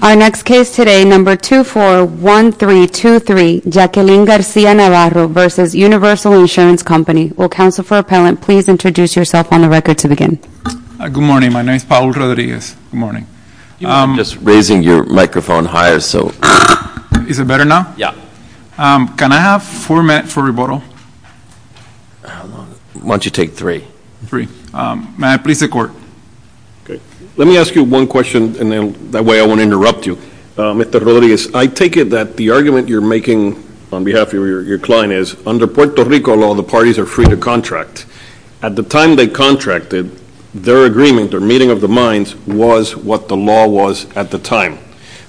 Our next case today, number 241323, Jaqueline Garcia-Navarro v. Universal Insurance Company. Will counsel for appellant please introduce yourself on the record to begin. Good morning, my name is Paulo Rodriguez. You were just raising your microphone higher, so. Is it better now? Yeah. Can I have four minutes for rebuttal? Why don't you take three? Three. May I please take order? Let me ask you one question and then that way I won't interrupt you. Mr. Rodriguez, I take it that the argument you're making on behalf of your client is under Puerto Rico law, the parties are free to contract. At the time they contracted, their agreement, their meeting of the minds was what the law was at the time.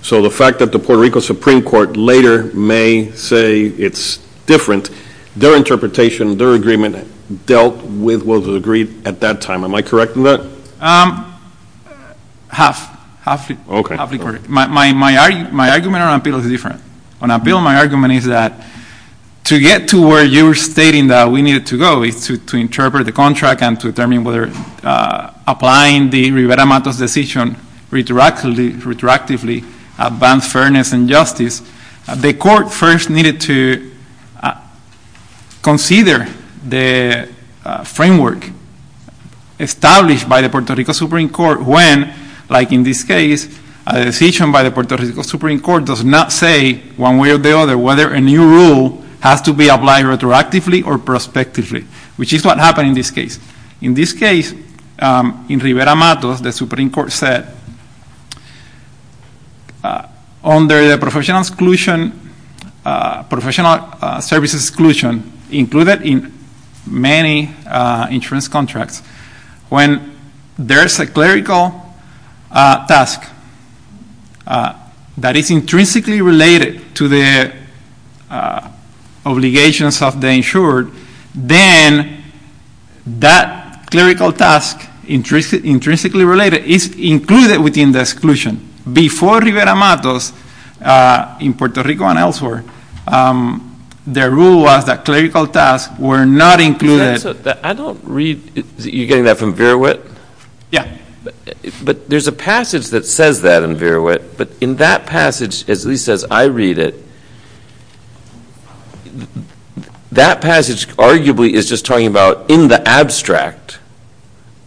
So the fact that the Puerto Rico Supreme Court later may say it's different, their interpretation, their agreement dealt with what was agreed at that time. Am I correct in that? Half. Okay. My argument on appeal is different. On appeal my argument is that to get to where you were stating that we needed to go is to interpret the contract and to determine whether applying the Rivera-Matos decision retroactively advanced fairness and justice. The court first needed to consider the framework established by the Puerto Rico Supreme Court when, like in this case, a decision by the Puerto Rico Supreme Court does not say one way or the other whether a new rule has to be applied retroactively or prospectively, which is what happened in this case. In this case, in Rivera-Matos, the Supreme Court said, under professional exclusion, professional services exclusion, included in many insurance contracts, when there's a clerical task that is intrinsically related to the obligations of the insured, then that clerical task, intrinsically related, is included within the exclusion. Before Rivera-Matos in Puerto Rico and elsewhere, the rule was that clerical tasks were not included. I don't read. You're getting that from Verawit? Yeah. But there's a passage that says that in Verawit, but in that passage, at least as I read it, that passage arguably is just talking about, in the abstract,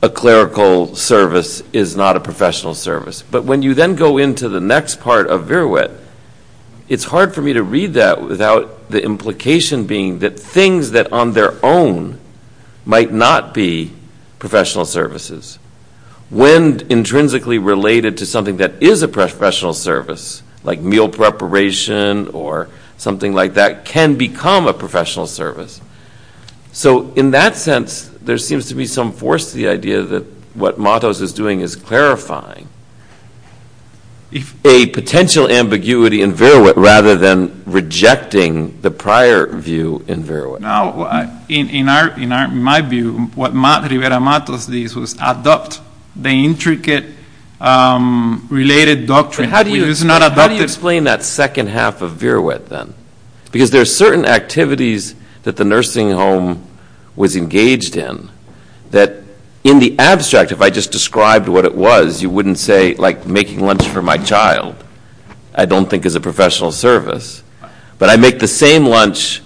a clerical service is not a professional service. But when you then go into the next part of Verawit, it's hard for me to read that without the implication being that things that on their own might not be professional services, when intrinsically related to something that is a professional service, like meal preparation or something like that, can become a professional service. So in that sense, there seems to be some force to the idea that what Matos is doing is clarifying a potential ambiguity in Verawit, rather than rejecting the prior view in Verawit. In my view, what Rivera-Matos did was adopt the intricate related doctrine. How do you explain that second half of Verawit, then? Because there are certain activities that the nursing home was engaged in, that in the abstract, if I just described what it was, you wouldn't say, like, making lunch for my child, I don't think is a professional service. But I make the same lunch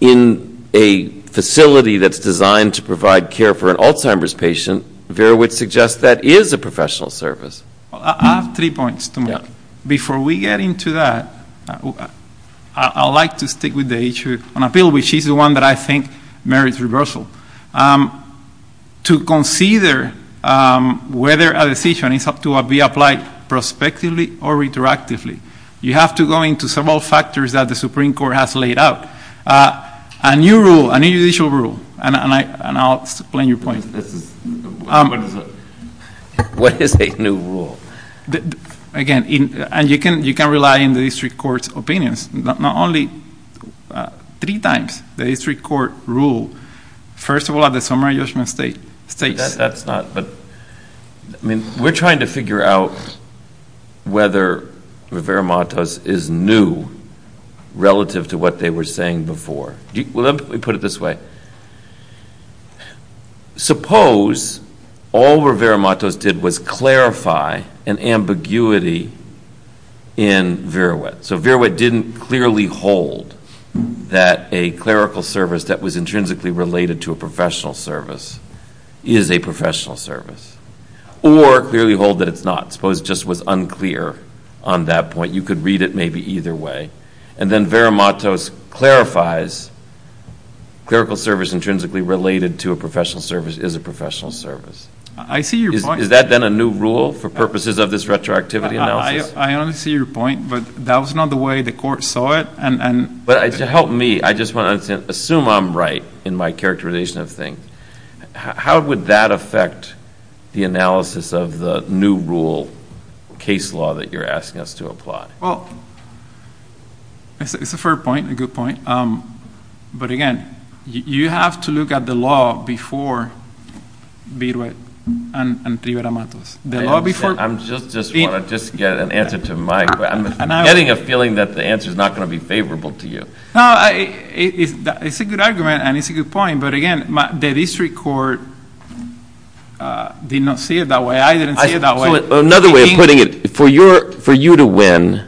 in a facility that's designed to provide care for an Alzheimer's patient, Verawit suggests that is a professional service. I have three points to make. Before we get into that, I'd like to stick with the issue on appeal, which is the one that I think merits reversal. To consider whether a decision is to be applied prospectively or retroactively, you have to go into several factors that the Supreme Court has laid out. A new rule, a new judicial rule, and I'll explain your point. What is a new rule? Again, you can rely on the district court's opinions. Not only three times, the district court ruled, first of all, at the summary judgment stage. We're trying to figure out whether Rivera-Matos is new relative to what they were saying before. Let me put it this way. Suppose all Rivera-Matos did was clarify an ambiguity in Verawit. So Verawit didn't clearly hold that a clerical service that was intrinsically related to a professional service is a professional service. Or clearly hold that it's not. Suppose it just was unclear on that point. You could read it maybe either way. And then Verawit clarifies clerical service intrinsically related to a professional service is a professional service. I see your point. Is that then a new rule for purposes of this retroactivity analysis? I understand your point, but that was not the way the court saw it. To help me, I just want to understand. Assume I'm right in my characterization of things. How would that affect the analysis of the new rule case law that you're asking us to apply? Well, it's a fair point, a good point. But, again, you have to look at the law before Verawit and Rivera-Matos. I just want to get an answer to Mike. I'm getting a feeling that the answer is not going to be favorable to you. No, it's a good argument and it's a good point. But, again, the district court did not see it that way. I didn't see it that way. Another way of putting it, for you to win,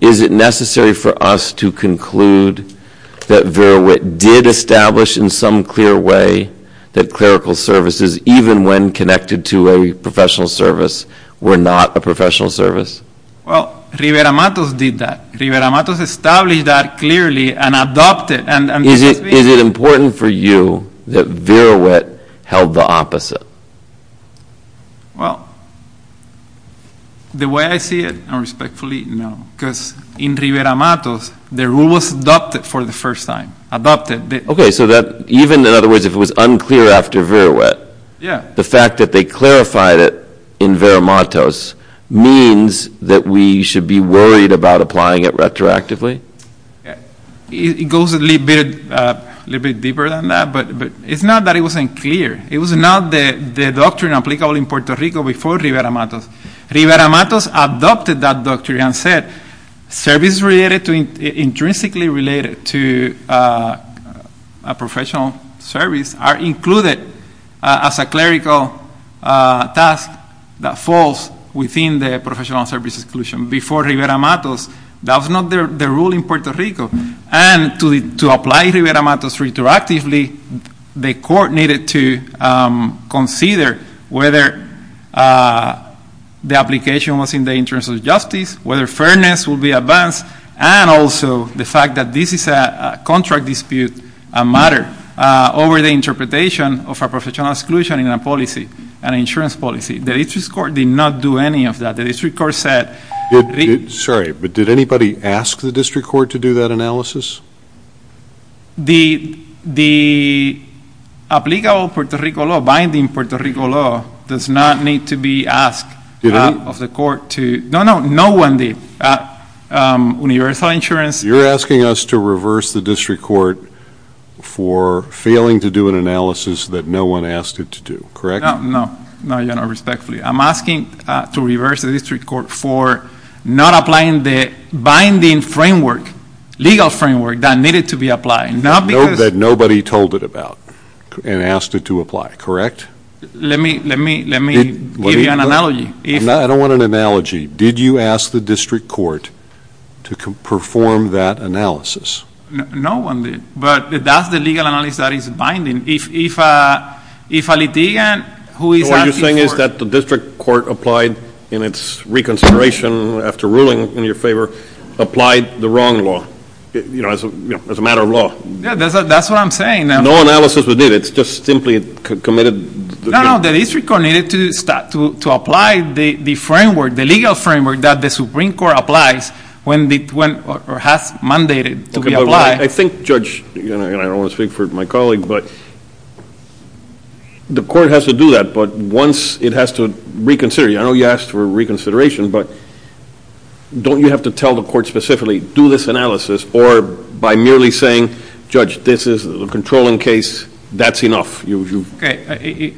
is it necessary for us to conclude that Verawit did establish in some clear way that clerical services, even when connected to a professional service, were not a professional service? Well, Rivera-Matos did that. Rivera-Matos established that clearly and adopted. Is it important for you that Verawit held the opposite? Well, the way I see it, and respectfully, no. Because in Rivera-Matos, the rule was adopted for the first time. Okay, so even, in other words, if it was unclear after Verawit, the fact that they clarified it in Vera-Matos means that we should be worried about applying it retroactively? It goes a little bit deeper than that, but it's not that it wasn't clear. It was not the doctrine applicable in Puerto Rico before Rivera-Matos. Rivera-Matos adopted that doctrine and said services intrinsically related to a professional service are included as a clerical task that falls within the professional service exclusion. Before Rivera-Matos, that was not the rule in Puerto Rico. And to apply Rivera-Matos retroactively, the court needed to consider whether the application was in the interest of justice, whether fairness would be advanced, and also the fact that this is a contract dispute matter over the interpretation of a professional exclusion in a policy, an insurance policy. The district court did not do any of that. Sorry, but did anybody ask the district court to do that analysis? The applicable Puerto Rico law, binding Puerto Rico law, does not need to be asked of the court. No, no, no one did. Universal insurance. You're asking us to reverse the district court for failing to do an analysis that no one asked it to do, correct? No, no. No, Your Honor, respectfully. I'm asking to reverse the district court for not applying the binding framework, legal framework, that needed to be applied. That nobody told it about and asked it to apply, correct? Let me give you an analogy. I don't want an analogy. Did you ask the district court to perform that analysis? No one did. But that's the legal analysis that is binding. If a litigant who is asking for it. What you're saying is that the district court applied in its reconsideration after ruling in your favor, applied the wrong law, you know, as a matter of law. That's what I'm saying. No analysis was needed. It's just simply committed. No, no, the district court needed to apply the framework, the legal framework that the Supreme Court applies or has mandated to be applied. I think, Judge, and I don't want to speak for my colleague, but the court has to do that, but once it has to reconsider. I know you asked for reconsideration, but don't you have to tell the court specifically, do this analysis, or by merely saying, Judge, this is a controlling case, that's enough? In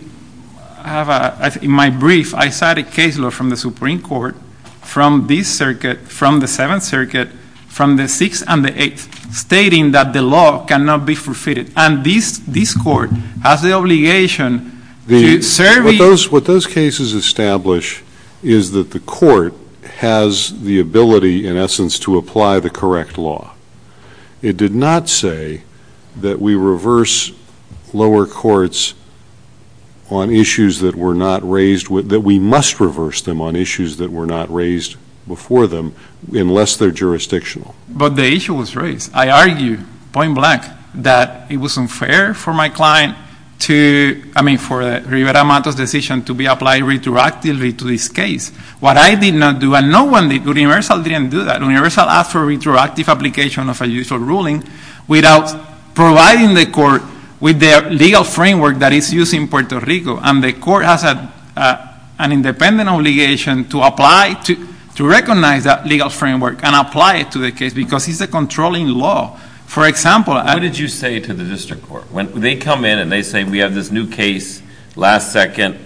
my brief, I cited a case law from the Supreme Court from this circuit, from the Seventh Circuit, from the Sixth and the Eighth, stating that the law cannot be forfeited. And this court has the obligation to serve. What those cases establish is that the court has the ability, in essence, to apply the correct law. It did not say that we reverse lower courts on issues that were not raised, that we must reverse them on issues that were not raised before them, unless they're jurisdictional. But the issue was raised. I argue, point blank, that it was unfair for my client to, I mean, for Rivera-Matos' decision to be applied retroactively to this case. What I did not do, and no one did, Universal didn't do that. Universal asked for retroactive application of a usual ruling without providing the court with the legal framework that is used in Puerto Rico. And the court has an independent obligation to apply, to recognize that legal framework and apply it to the case, because it's a controlling law. For example, I- What did you say to the district court? When they come in and they say, we have this new case, last second,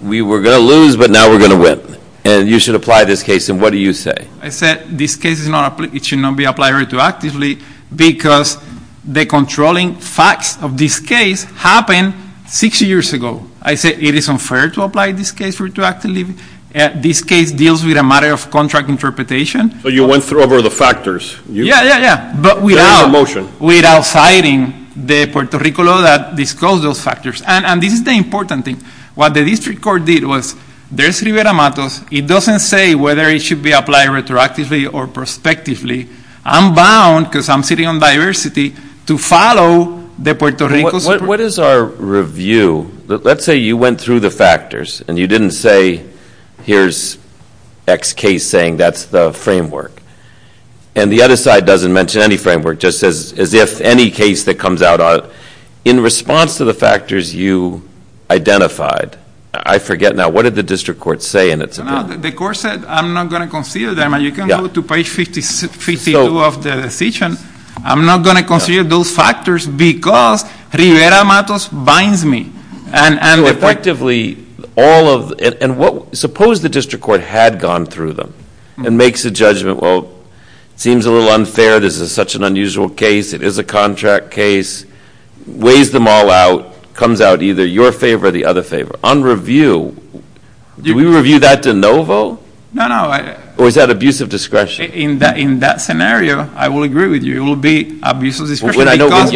we were going to lose, but now we're going to win. And you should apply this case. And what do you say? I said, this case is not, it should not be applied retroactively because the controlling facts of this case happened six years ago. I said, it is unfair to apply this case retroactively. This case deals with a matter of contract interpretation. So you went through over the factors. Yeah, yeah, yeah. But without- Without citing the Puerto Rico law that disclosed those factors. And this is the important thing. What the district court did was, there's Rivera Matos. It doesn't say whether it should be applied retroactively or prospectively. I'm bound, because I'm sitting on diversity, to follow the Puerto Rico- What is our review? Let's say you went through the factors and you didn't say, here's X case saying that's the framework. And the other side doesn't mention any framework. Just says, as if any case that comes out in response to the factors you identified. I forget now. What did the district court say in its report? The court said, I'm not going to consider them. And you can go to page 52 of the decision. I'm not going to consider those factors because Rivera Matos binds me. And effectively, all of, and what, suppose the district court had gone through them. And makes a judgment, well, it seems a little unfair. This is such an unusual case. It is a contract case. Weighs them all out. Comes out either your favor or the other favor. On review, do we review that de novo? No, no. Or is that abuse of discretion? In that scenario, I will agree with you. It will be abuse of discretion because-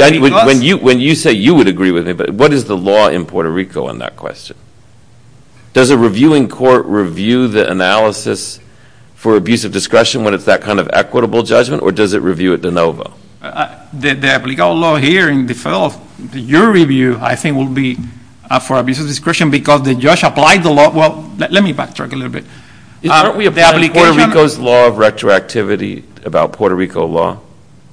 When you say you would agree with me, but what is the law in Puerto Rico on that question? Does a reviewing court review the analysis for abuse of discretion when it's that kind of equitable judgment? Or does it review it de novo? The legal law here in default, your review, I think, will be for abuse of discretion because the judge applied the law. Well, let me backtrack a little bit. Aren't we applying Puerto Rico's law of retroactivity about Puerto Rico law?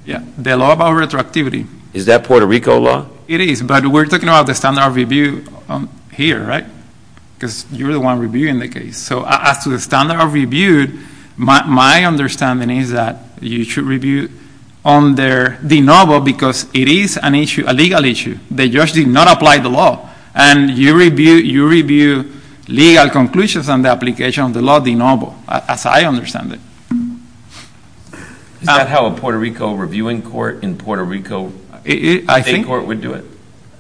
Yeah. The law about retroactivity. Is that Puerto Rico law? It is. But we're talking about the standard of review here, right? Because you're the one reviewing the case. So as to the standard of review, my understanding is that you should review on their de novo because it is an issue, a legal issue. The judge did not apply the law. And you review legal conclusions on the application of the law de novo, as I understand it. Is that how a Puerto Rico reviewing court in Puerto Rico- I think- I think court would do it?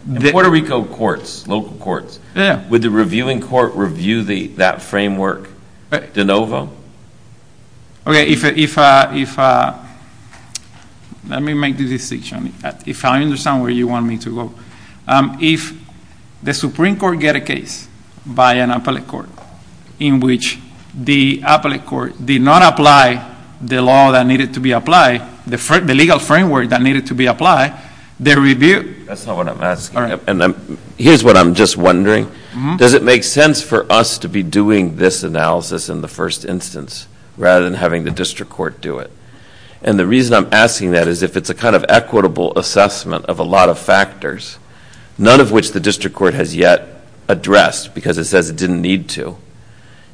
In Puerto Rico courts, local courts- Yeah. Would the reviewing court review that framework de novo? Okay, if- let me make the distinction. If I understand where you want me to go. If the Supreme Court get a case by an appellate court in which the appellate court did not apply the law that needed to be applied, the legal framework that needed to be applied, the review- That's not what I'm asking. Here's what I'm just wondering. Does it make sense for us to be doing this analysis in the first instance rather than having the district court do it? And the reason I'm asking that is if it's a kind of equitable assessment of a lot of factors, none of which the district court has yet addressed because it says it didn't need to.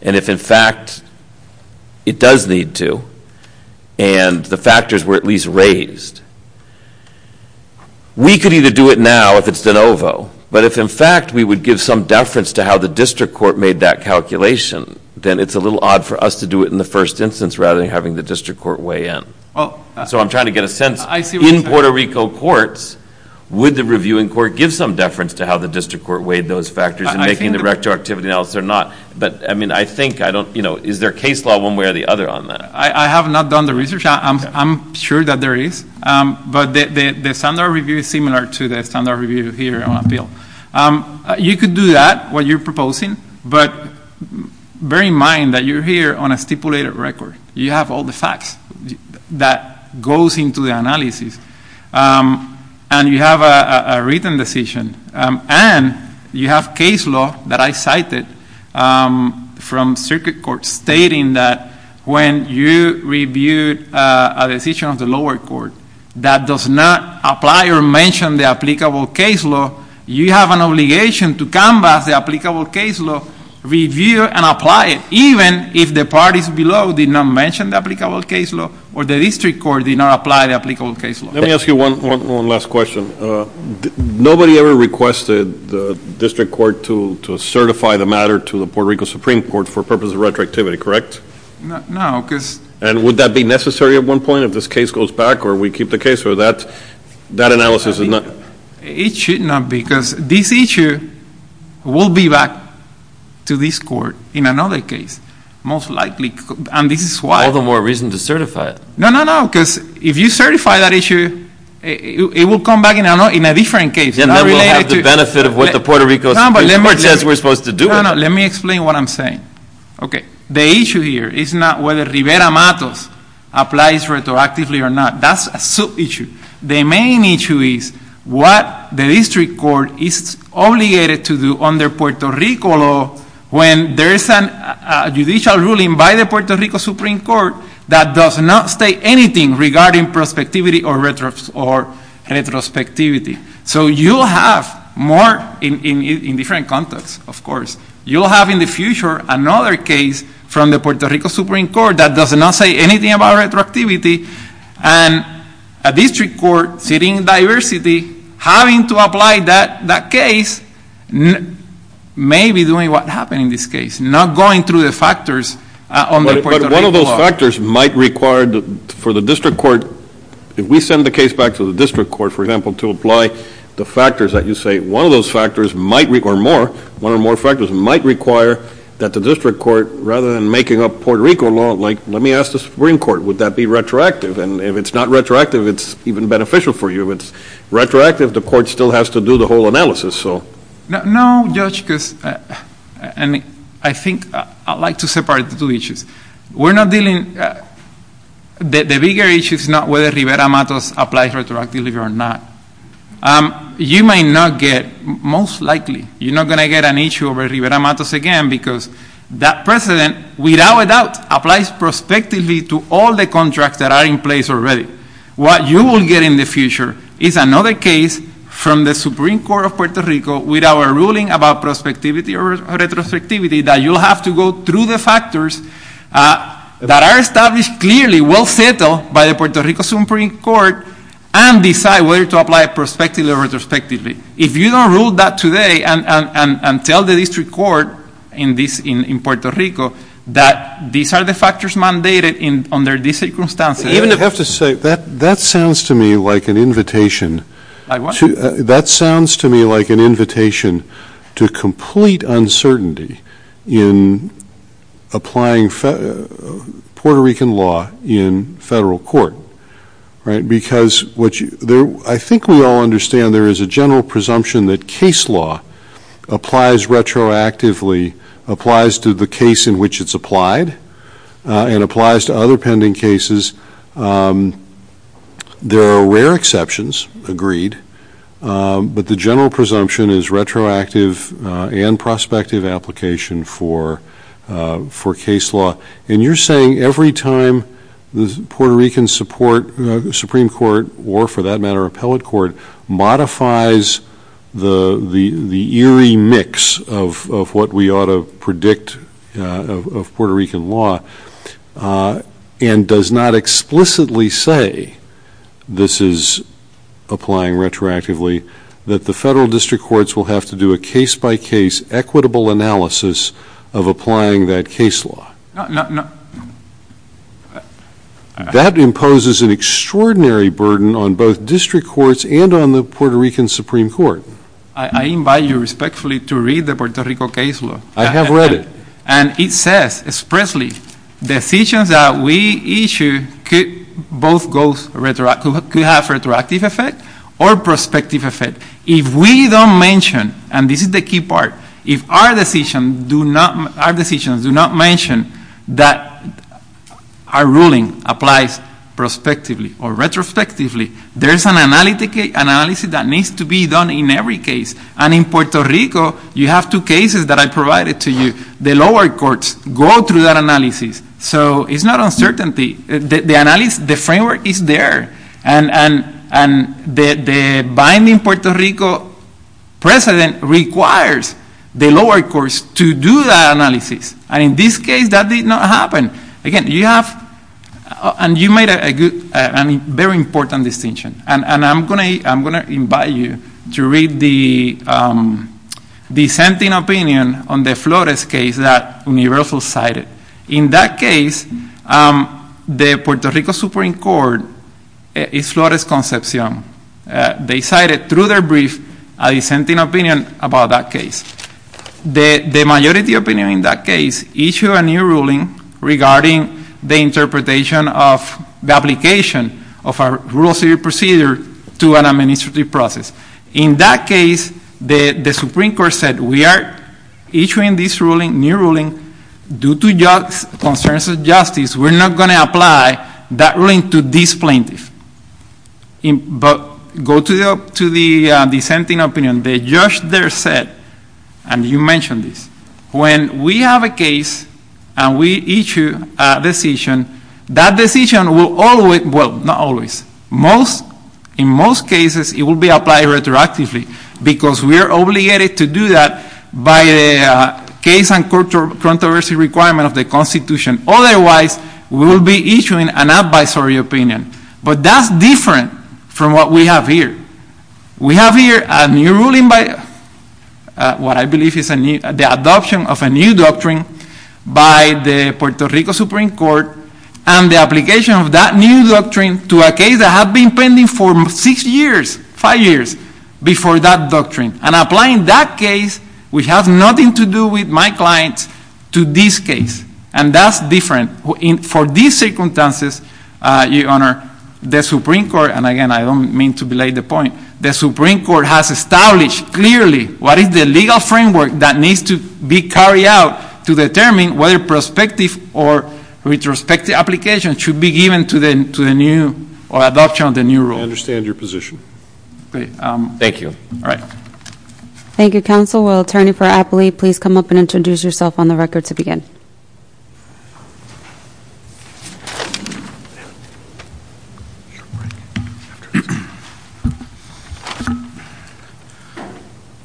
And if, in fact, it does need to and the factors were at least raised, we could either do it now if it's de novo. But if, in fact, we would give some deference to how the district court made that calculation, then it's a little odd for us to do it in the first instance rather than having the district court weigh in. So I'm trying to get a sense. In Puerto Rico courts, would the reviewing court give some deference to how the district court weighed those factors in making the retroactivity analysis or not? But, I mean, I think I don't- you know, is there case law one way or the other on that? I have not done the research. I'm sure that there is. But the standard review is similar to the standard review here on appeal. You could do that, what you're proposing. But bear in mind that you're here on a stipulated record. You have all the facts that goes into the analysis. And you have a written decision. And you have case law that I cited from circuit court stating that when you review a decision of the lower court that does not apply or mention the applicable case law, you have an obligation to come back to the applicable case law, review and apply it, even if the parties below did not mention the applicable case law or the district court did not apply the applicable case law. Let me ask you one last question. Nobody ever requested the district court to certify the matter to the Puerto Rico Supreme Court for purpose of retroactivity, correct? No, because- And would that be necessary at one point if this case goes back or we keep the case or that analysis is not- It should not be because this issue will be back to this court in another case, most likely. And this is why- All the more reason to certify it. No, no, no. Because if you certify that issue, it will come back in a different case. Then we'll have the benefit of what the Puerto Rico Supreme Court says we're supposed to do. No, no. Let me explain what I'm saying. Okay. The issue here is not whether Rivera-Matos applies retroactively or not. That's a sub-issue. The main issue is what the district court is obligated to do under Puerto Rico law when there is a judicial ruling by the Puerto Rico Supreme Court that does not state anything regarding prospectivity or retrospectivity. So you'll have more in different contexts, of course. You'll have in the future another case from the Puerto Rico Supreme Court that does not say anything about retroactivity. And a district court sitting in diversity having to apply that case may be doing what happened in this case, not going through the factors under Puerto Rico law. But one of those factors might require for the district court, if we send the case back to the district court, for example, to apply the factors that you say, one of those factors might require more, one or more factors might require that the district court, rather than making up Puerto Rico law, like let me ask the Supreme Court, would that be retroactive? And if it's not retroactive, it's even beneficial for you. If it's retroactive, the court still has to do the whole analysis. No, Judge, because I think I'd like to separate the two issues. We're not dealing, the bigger issue is not whether Rivera-Matos applies retroactively or not. You might not get, most likely, you're not going to get an issue over Rivera-Matos again because that precedent, without a doubt, applies prospectively to all the contracts that are in place already. What you will get in the future is another case from the Supreme Court of Puerto Rico with our ruling about prospectivity or retrospectivity that you'll have to go through the factors that are established clearly, well settled by the Puerto Rico Supreme Court, and decide whether to apply prospectively or retrospectively. If you don't rule that today and tell the district court in Puerto Rico that these are the factors mandated under these circumstances. I have to say, that sounds to me like an invitation to complete uncertainty in applying Puerto Rican law in federal court. Because I think we all understand there is a general presumption that case law applies retroactively, applies to the case in which it's applied, and applies to other pending cases. There are rare exceptions, agreed, but the general presumption is retroactive and prospective application for case law. And you're saying every time the Puerto Rican Supreme Court, or for that matter appellate court, modifies the eerie mix of what we ought to predict of Puerto Rican law, and does not explicitly say this is applying retroactively, that the federal district courts will have to do a case by case, equitable analysis of applying that case law. No, no, no. That imposes an extraordinary burden on both district courts and on the Puerto Rican Supreme Court. I invite you respectfully to read the Puerto Rico case law. I have read it. And it says expressly decisions that we issue could have retroactive effect or prospective effect. If we don't mention, and this is the key part, if our decisions do not mention that our ruling applies prospectively or retrospectively, there's an analysis that needs to be done in every case. And in Puerto Rico, you have two cases that I provided to you. The lower courts go through that analysis. So it's not uncertainty. The framework is there. And the binding Puerto Rico precedent requires the lower courts to do that analysis. And in this case, that did not happen. Again, you have made a very important distinction. And I'm going to invite you to read the dissenting opinion on the Flores case that Universal cited. In that case, the Puerto Rico Supreme Court, Flores Concepcion, they cited through their brief a dissenting opinion about that case. The majority opinion in that case issued a new ruling regarding the interpretation of the application of a rural city procedure to an administrative process. In that case, the Supreme Court said we are issuing this ruling, new ruling, due to concerns of justice. We're not going to apply that ruling to this plaintiff. But go to the dissenting opinion. They judged their set. And you mentioned this. When we have a case and we issue a decision, that decision will always, well, not always, in most cases, it will be applied retroactively. Because we are obligated to do that by the case and court controversy requirement of the Constitution. Otherwise, we will be issuing an advisory opinion. But that's different from what we have here. We have here a new ruling by what I believe is the adoption of a new doctrine by the Puerto Rico Supreme Court. And the application of that new doctrine to a case that had been pending for six years, five years, before that doctrine. And applying that case, which has nothing to do with my clients, to this case. And that's different. For these circumstances, Your Honor, the Supreme Court, and again, I don't mean to belay the point, the Supreme Court has established clearly what is the legal framework that needs to be carried out to determine whether prospective or retrospective application should be given to the new or adoption of the new rule. I understand your position. Thank you. All right. Thank you, Counsel. Will Attorney for Appley please come up and introduce yourself on the record to begin?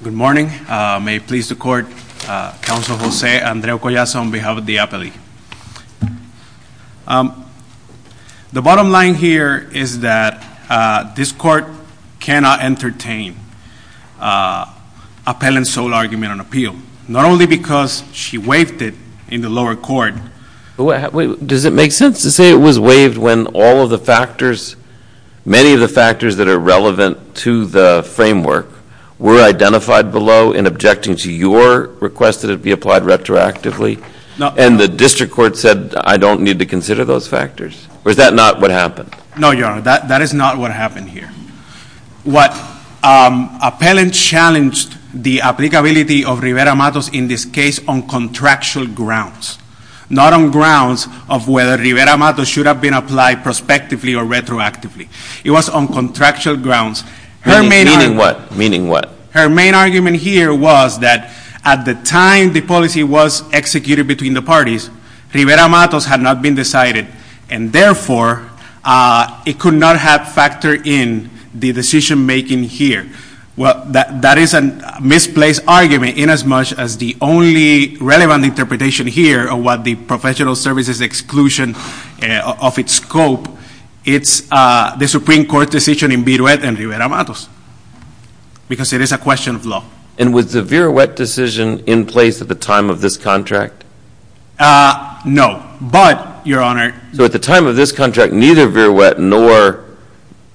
Good morning. May it please the Court, Counsel Jose Andreu Collazo on behalf of the Appley. The bottom line here is that this Court cannot entertain appellant's sole argument on appeal. Not only because she waived it in the lower court. Does it make sense to say it was waived when all of the factors, many of the factors that are relevant to the framework, were identified below in objecting to your request that it be applied retroactively? No. And the district court said, I don't need to consider those factors? Or is that not what happened? No, Your Honor. That is not what happened here. What appellant challenged the applicability of Rivera-Matos in this case on contractual grounds. Not on grounds of whether Rivera-Matos should have been applied prospectively or retroactively. It was on contractual grounds. Meaning what? Meaning what? Her main argument here was that at the time the policy was executed between the parties, Rivera-Matos had not been decided. And therefore, it could not have factored in the decision making here. Well, that is a misplaced argument in as much as the only relevant interpretation here of what the professional services exclusion of its scope. It's the Supreme Court decision in Viruet and Rivera-Matos. Because it is a question of law. And was the Viruet decision in place at the time of this contract? No. But, Your Honor. So at the time of this contract, neither Viruet nor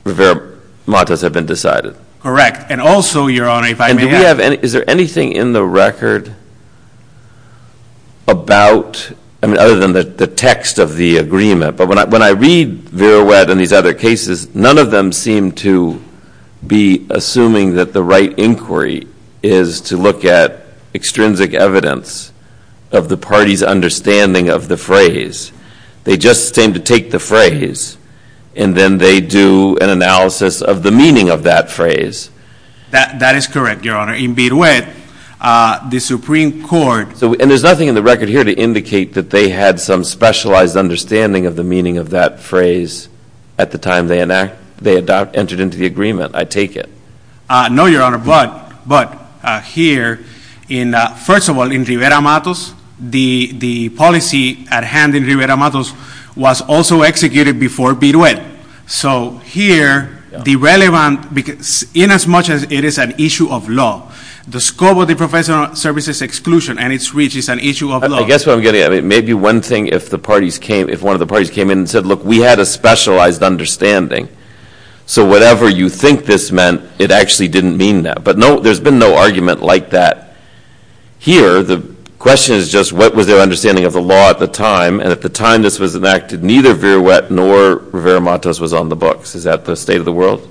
Rivera-Matos had been decided? Correct. And also, Your Honor, if I may ask. And is there anything in the record about, I mean, other than the text of the agreement. But when I read Viruet and these other cases, none of them seem to be assuming that the right inquiry is to look at extrinsic evidence of the party's understanding of the phrase. They just seem to take the phrase. And then they do an analysis of the meaning of that phrase. That is correct, Your Honor. In Viruet, the Supreme Court. And there's nothing in the record here to indicate that they had some specialized understanding of the meaning of that phrase at the time they entered into the agreement. I take it. No, Your Honor. But here, first of all, in Rivera-Matos, the policy at hand in Rivera-Matos was also executed before Viruet. So here, the relevant, inasmuch as it is an issue of law, the scope of the professional services exclusion and its reach is an issue of law. I guess what I'm getting at, it may be one thing if one of the parties came in and said, look, we had a specialized understanding. So whatever you think this meant, it actually didn't mean that. But there's been no argument like that here. The question is just what was their understanding of the law at the time. And at the time this was enacted, neither Viruet nor Rivera-Matos was on the books. Is that the state of the world?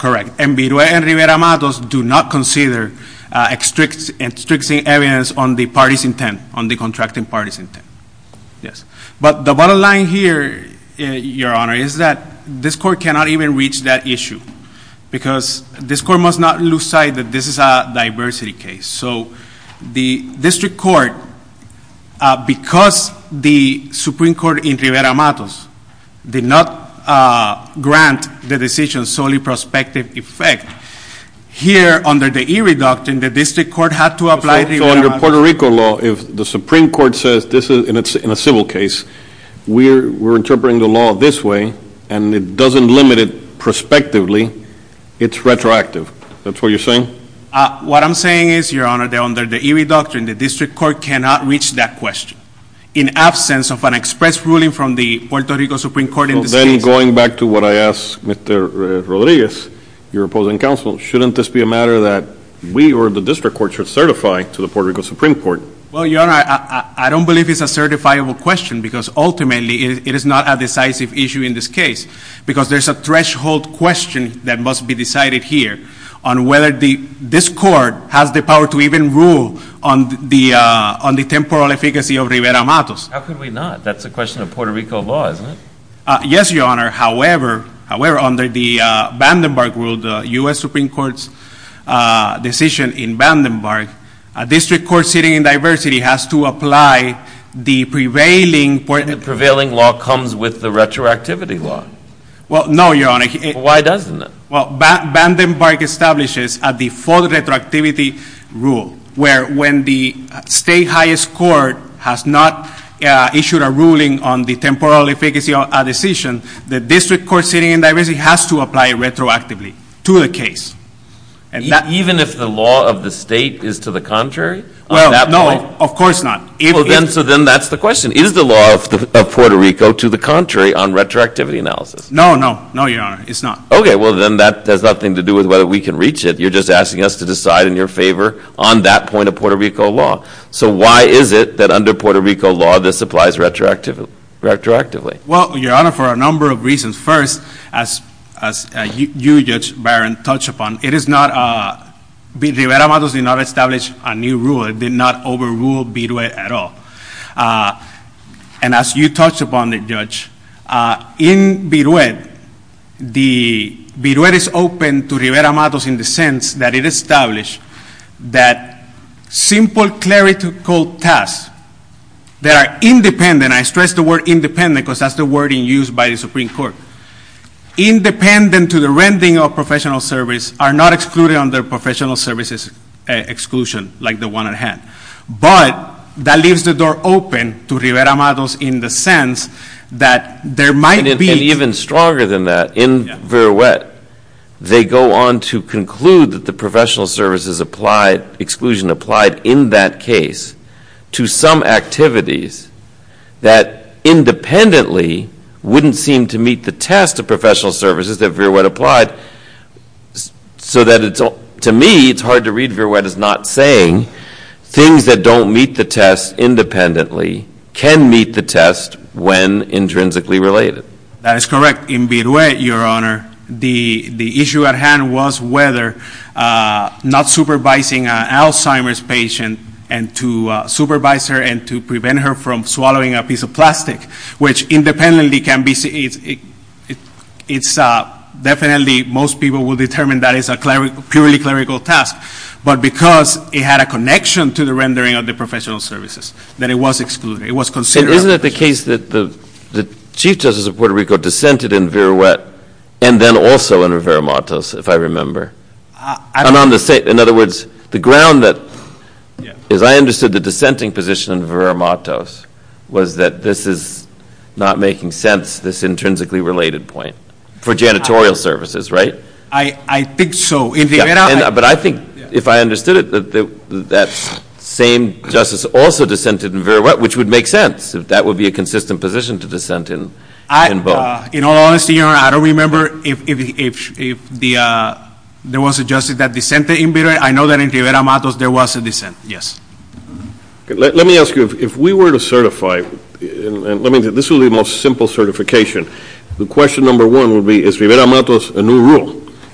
Correct. And Viruet and Rivera-Matos do not consider extrinsic evidence on the parties' intent, on the contracting parties' intent. Yes. But the bottom line here, Your Honor, is that this court cannot even reach that issue because this court must not lose sight that this is a diversity case. So the district court, because the Supreme Court in Rivera-Matos did not grant the decision solely prospective effect, here, under the e-reductant, the district court had to apply Rivera-Matos. In Puerto Rico law, if the Supreme Court says this is in a civil case, we're interpreting the law this way, and it doesn't limit it prospectively. It's retroactive. Is that what you're saying? What I'm saying is, Your Honor, that under the e-reductant, the district court cannot reach that question. In absence of an express ruling from the Puerto Rico Supreme Court in this case. Then going back to what I asked Mr. Rodriguez, your opposing counsel, shouldn't this be a matter that we or the district court should certify to the Puerto Rico Supreme Court? Well, Your Honor, I don't believe it's a certifiable question because ultimately it is not a decisive issue in this case because there's a threshold question that must be decided here on whether this court has the power to even rule on the temporal efficacy of Rivera-Matos. How could we not? That's a question of Puerto Rico law, isn't it? Yes, Your Honor. However, under the Vandenberg rule, the U.S. Supreme Court's decision in Vandenberg, a district court sitting in diversity has to apply the prevailing... The prevailing law comes with the retroactivity law. Well, no, Your Honor. Why doesn't it? Well, Vandenberg establishes a default retroactivity rule where when the state highest court has not issued a ruling on the temporal efficacy of a decision, the district court sitting in diversity has to apply it retroactively to the case. Even if the law of the state is to the contrary? Well, no, of course not. So then that's the question. Is the law of Puerto Rico to the contrary on retroactivity analysis? No, no, no, Your Honor. It's not. Okay, well then that has nothing to do with whether we can reach it. You're just asking us to decide in your favor on that point of Puerto Rico law. So why is it that under Puerto Rico law this applies retroactively? Well, Your Honor, for a number of reasons. First, as you, Judge Barron, touched upon, it is not... Rivera-Matos did not establish a new rule. It did not overrule BIDUED at all. And as you touched upon it, Judge, in BIDUED, BIDUED is open to Rivera-Matos in the sense that it established that simple clerical tasks that are independent, and I stress the word independent because that's the wording used by the Supreme Court, independent to the rending of professional service, are not excluded under professional services exclusion like the one at hand. But that leaves the door open to Rivera-Matos in the sense that there might be... And even stronger than that, in BIDUED, they go on to conclude that the professional services exclusion applied in that case to some activities that independently wouldn't seem to meet the test of professional services that BIDUED applied, so that it's... To me, it's hard to read BIDUED as not saying things that don't meet the test independently can meet the test when intrinsically related. That is correct. In BIDUED, Your Honor, the issue at hand was whether not supervising an Alzheimer's patient and to supervise her and to prevent her from swallowing a piece of plastic, which independently can be... It's definitely... Most people will determine that it's a purely clerical task, but because it had a connection to the rendering of the professional services, that it was excluded. It was considered... Isn't it the case that the Chief Justice of Puerto Rico dissented in BIDUED and then also in Rivera-Matos, if I remember? And on the same... In other words, the ground that... As I understood, the dissenting position in Rivera-Matos was that this is not making sense, this intrinsically related point for janitorial services, right? I think so. But I think, if I understood it, that that same justice also dissented in Rivera-Matos, which would make sense if that would be a consistent position to dissent in both. In all honesty, Your Honor, I don't remember if there was a justice that dissented in BIDUED. I know that in Rivera-Matos there was a dissent, yes. Let me ask you, if we were to certify... This will be the most simple certification. The question number one would be, is Rivera-Matos a new rule?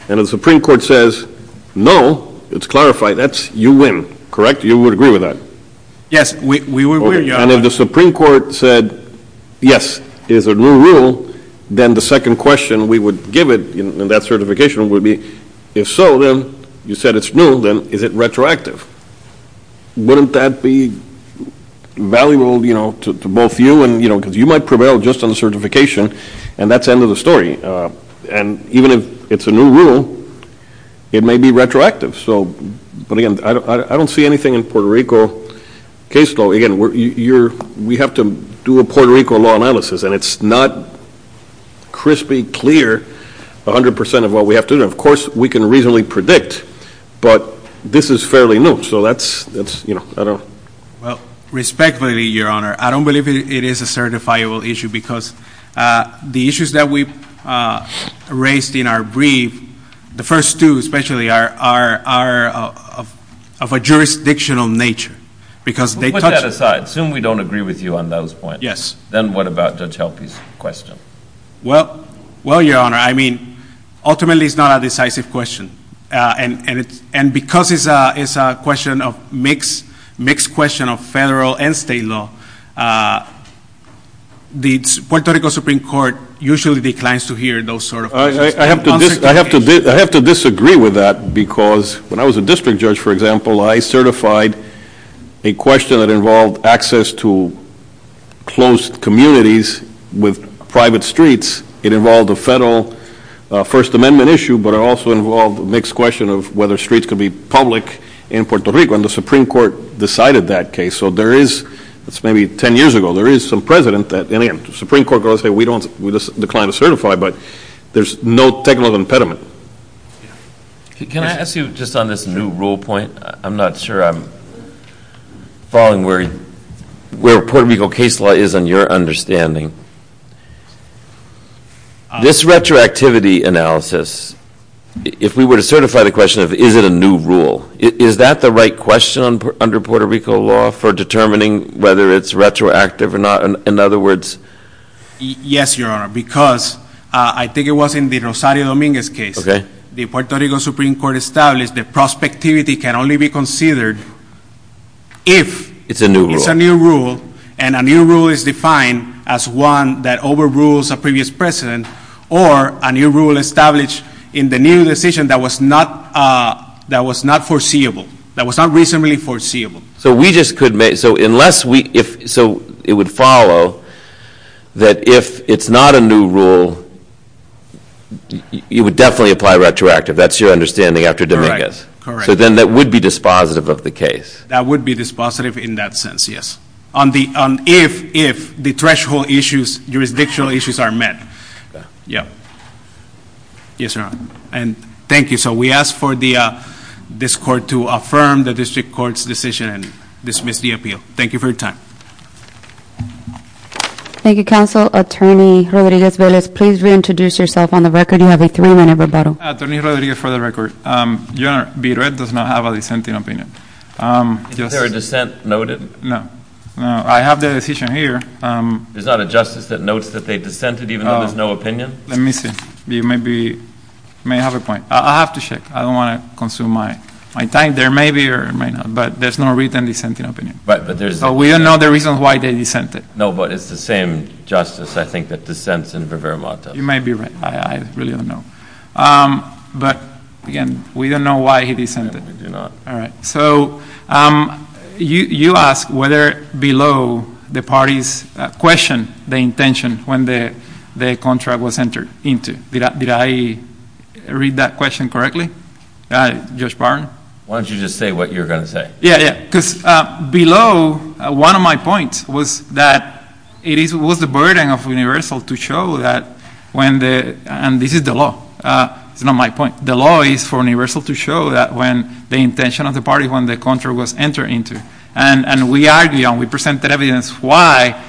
And if the Supreme Court says, no, it's clarified, that's you win, correct? You would agree with that? Yes, we would agree, Your Honor. And if the Supreme Court said, yes, it is a new rule, then the second question we would give it in that certification would be, if so, then, you said it's new, then is it retroactive? Wouldn't that be valuable to both you and, you know, because you might prevail just on the certification, and that's the end of the story. And even if it's a new rule, it may be retroactive. But, again, I don't see anything in Puerto Rico case law. Again, we have to do a Puerto Rico law analysis, and it's not crispy, clear, 100% of what we have to do. And, of course, we can reasonably predict, but this is fairly new. So that's, you know, I don't know. Well, respectfully, Your Honor, I don't believe it is a certifiable issue because the issues that we raised in our brief, the first two especially, are of a jurisdictional nature because they touch. We'll put that aside. Assume we don't agree with you on those points. Yes. Then what about Judge Helpe's question? Well, Your Honor, I mean, ultimately it's not a decisive question. And because it's a question of mixed question of federal and state law, the Puerto Rico Supreme Court usually declines to hear those sort of questions. I have to disagree with that because when I was a district judge, for example, I certified a question that involved access to closed communities with private streets. It involved a federal First Amendment issue, but it also involved a mixed question of whether streets could be public in Puerto Rico, and the Supreme Court decided that case. So there is – that's maybe 10 years ago – there is some precedent that – and, again, the Supreme Court goes, hey, we decline to certify, but there's no technical impediment. Can I ask you just on this new rule point? I'm not sure I'm following where Puerto Rico case law is on your understanding. This retroactivity analysis, if we were to certify the question of is it a new rule, is that the right question under Puerto Rico law for determining whether it's retroactive or not? Yes, Your Honor, because I think it was in the Rosario Dominguez case. The Puerto Rico Supreme Court established that prospectivity can only be considered if it's a new rule, and a new rule is defined as one that overrules a previous precedent or a new rule established in the new decision that was not foreseeable, that was not reasonably foreseeable. So we just could – so unless we – so it would follow that if it's not a new rule, it would definitely apply retroactive. That's your understanding after Dominguez. Correct. So then that would be dispositive of the case. That would be dispositive in that sense, yes, on if the threshold issues, jurisdictional issues are met. Yeah. Yes, Your Honor. And thank you. So we ask for this court to affirm the district court's decision and dismiss the appeal. Thank you for your time. Thank you, Counsel. Attorney Rodriguez-Velez, please reintroduce yourself on the record. You have a three-minute rebuttal. Attorney Rodriguez for the record. Your Honor, B-Red does not have a dissenting opinion. Is there a dissent noted? No. I have the decision here. There's not a justice that notes that they dissented even though there's no opinion? Let me see. You may have a point. I'll have to check. I don't want to consume my time. There may be or may not, but there's no written dissenting opinion. So we don't know the reasons why they dissented. No, but it's the same justice, I think, that dissents in Rivera-Montes. You may be right. I really don't know. But, again, we don't know why he dissented. We do not. All right. So you asked whether below the parties question the intention when the contract was entered into. Did I read that question correctly, Judge Barron? Why don't you just say what you were going to say? Yeah, yeah, because below, one of my points was that it was the burden of Universal to show that when the – and this is the law. It's not my point. The law is for Universal to show that when the intention of the party, when the contract was entered into. And we argued and we presented evidence why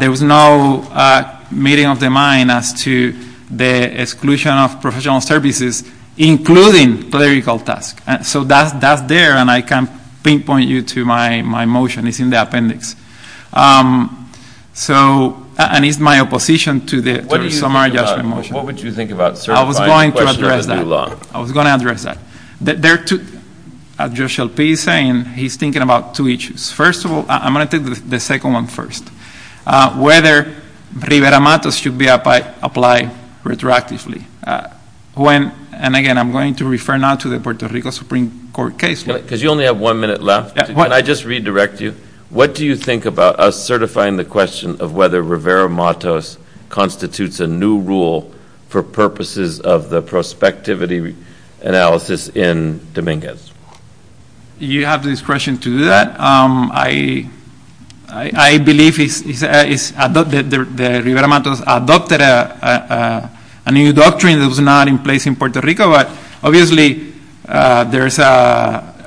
there was no meeting of the mind as to the exclusion of professional services, including clerical tasks. So that's there, and I can pinpoint you to my motion. It's in the appendix. And it's my opposition to the summary judgment motion. What would you think about certifying the questioner has no law? I was going to address that. There are two – Judge Shelby is saying he's thinking about two issues. First of all, I'm going to take the second one first, whether Rivera-Matos should be applied retroactively. When – and again, I'm going to refer now to the Puerto Rico Supreme Court case law. Because you only have one minute left. Can I just redirect you? What do you think about us certifying the question of whether Rivera-Matos constitutes a new rule for purposes of the prospectivity analysis in Dominguez? You have discretion to do that. I believe Rivera-Matos adopted a new doctrine that was not in place in Puerto Rico, but obviously there's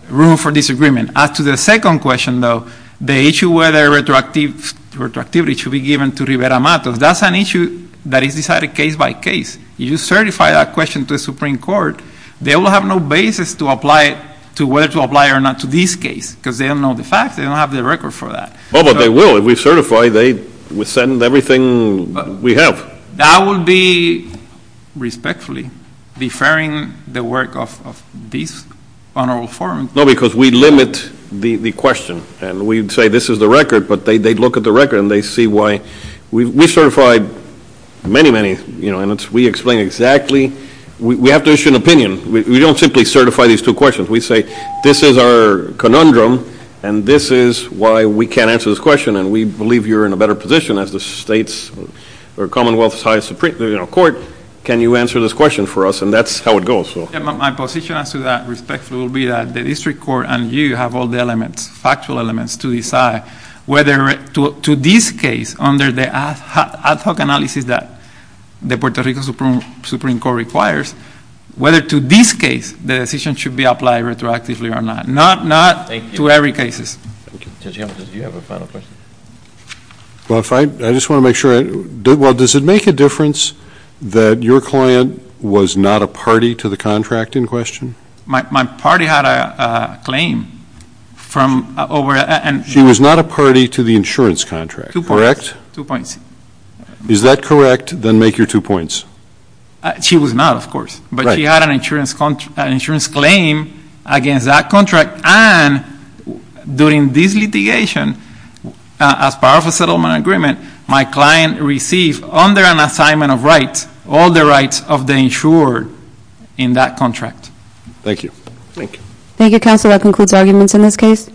room for disagreement. As to the second question, though, the issue whether retroactivity should be given to Rivera-Matos, if that's an issue that is decided case by case, you certify that question to the Supreme Court, they will have no basis to apply it to whether to apply it or not to this case, because they don't know the facts. They don't have the record for that. Oh, but they will. If we certify, they will send everything we have. That would be respectfully deferring the work of this honorable forum. No, because we limit the question. And we say this is the record, but they look at the record and they see why. We certify many, many, and we explain exactly. We have to issue an opinion. We don't simply certify these two questions. We say this is our conundrum, and this is why we can't answer this question, and we believe you're in a better position as the Commonwealth's highest Supreme Court. Can you answer this question for us? And that's how it goes. My position as to that respectfully will be that the district court and you have all the elements, factual elements, to decide whether to this case, under the ad hoc analysis that the Puerto Rico Supreme Court requires, whether to this case the decision should be applied retroactively or not. Not to every case. Judge Hamilton, do you have a final question? Well, I just want to make sure. Well, does it make a difference that your client was not a party to the contract in question? My party had a claim. She was not a party to the insurance contract, correct? Two points. Is that correct? Then make your two points. She was not, of course. Right. But she had an insurance claim against that contract, and during this litigation, as part of a settlement agreement, my client received, under an assignment of rights, all the rights of the insured in that contract. Thank you. Thank you. Thank you, counsel. That concludes arguments in this case.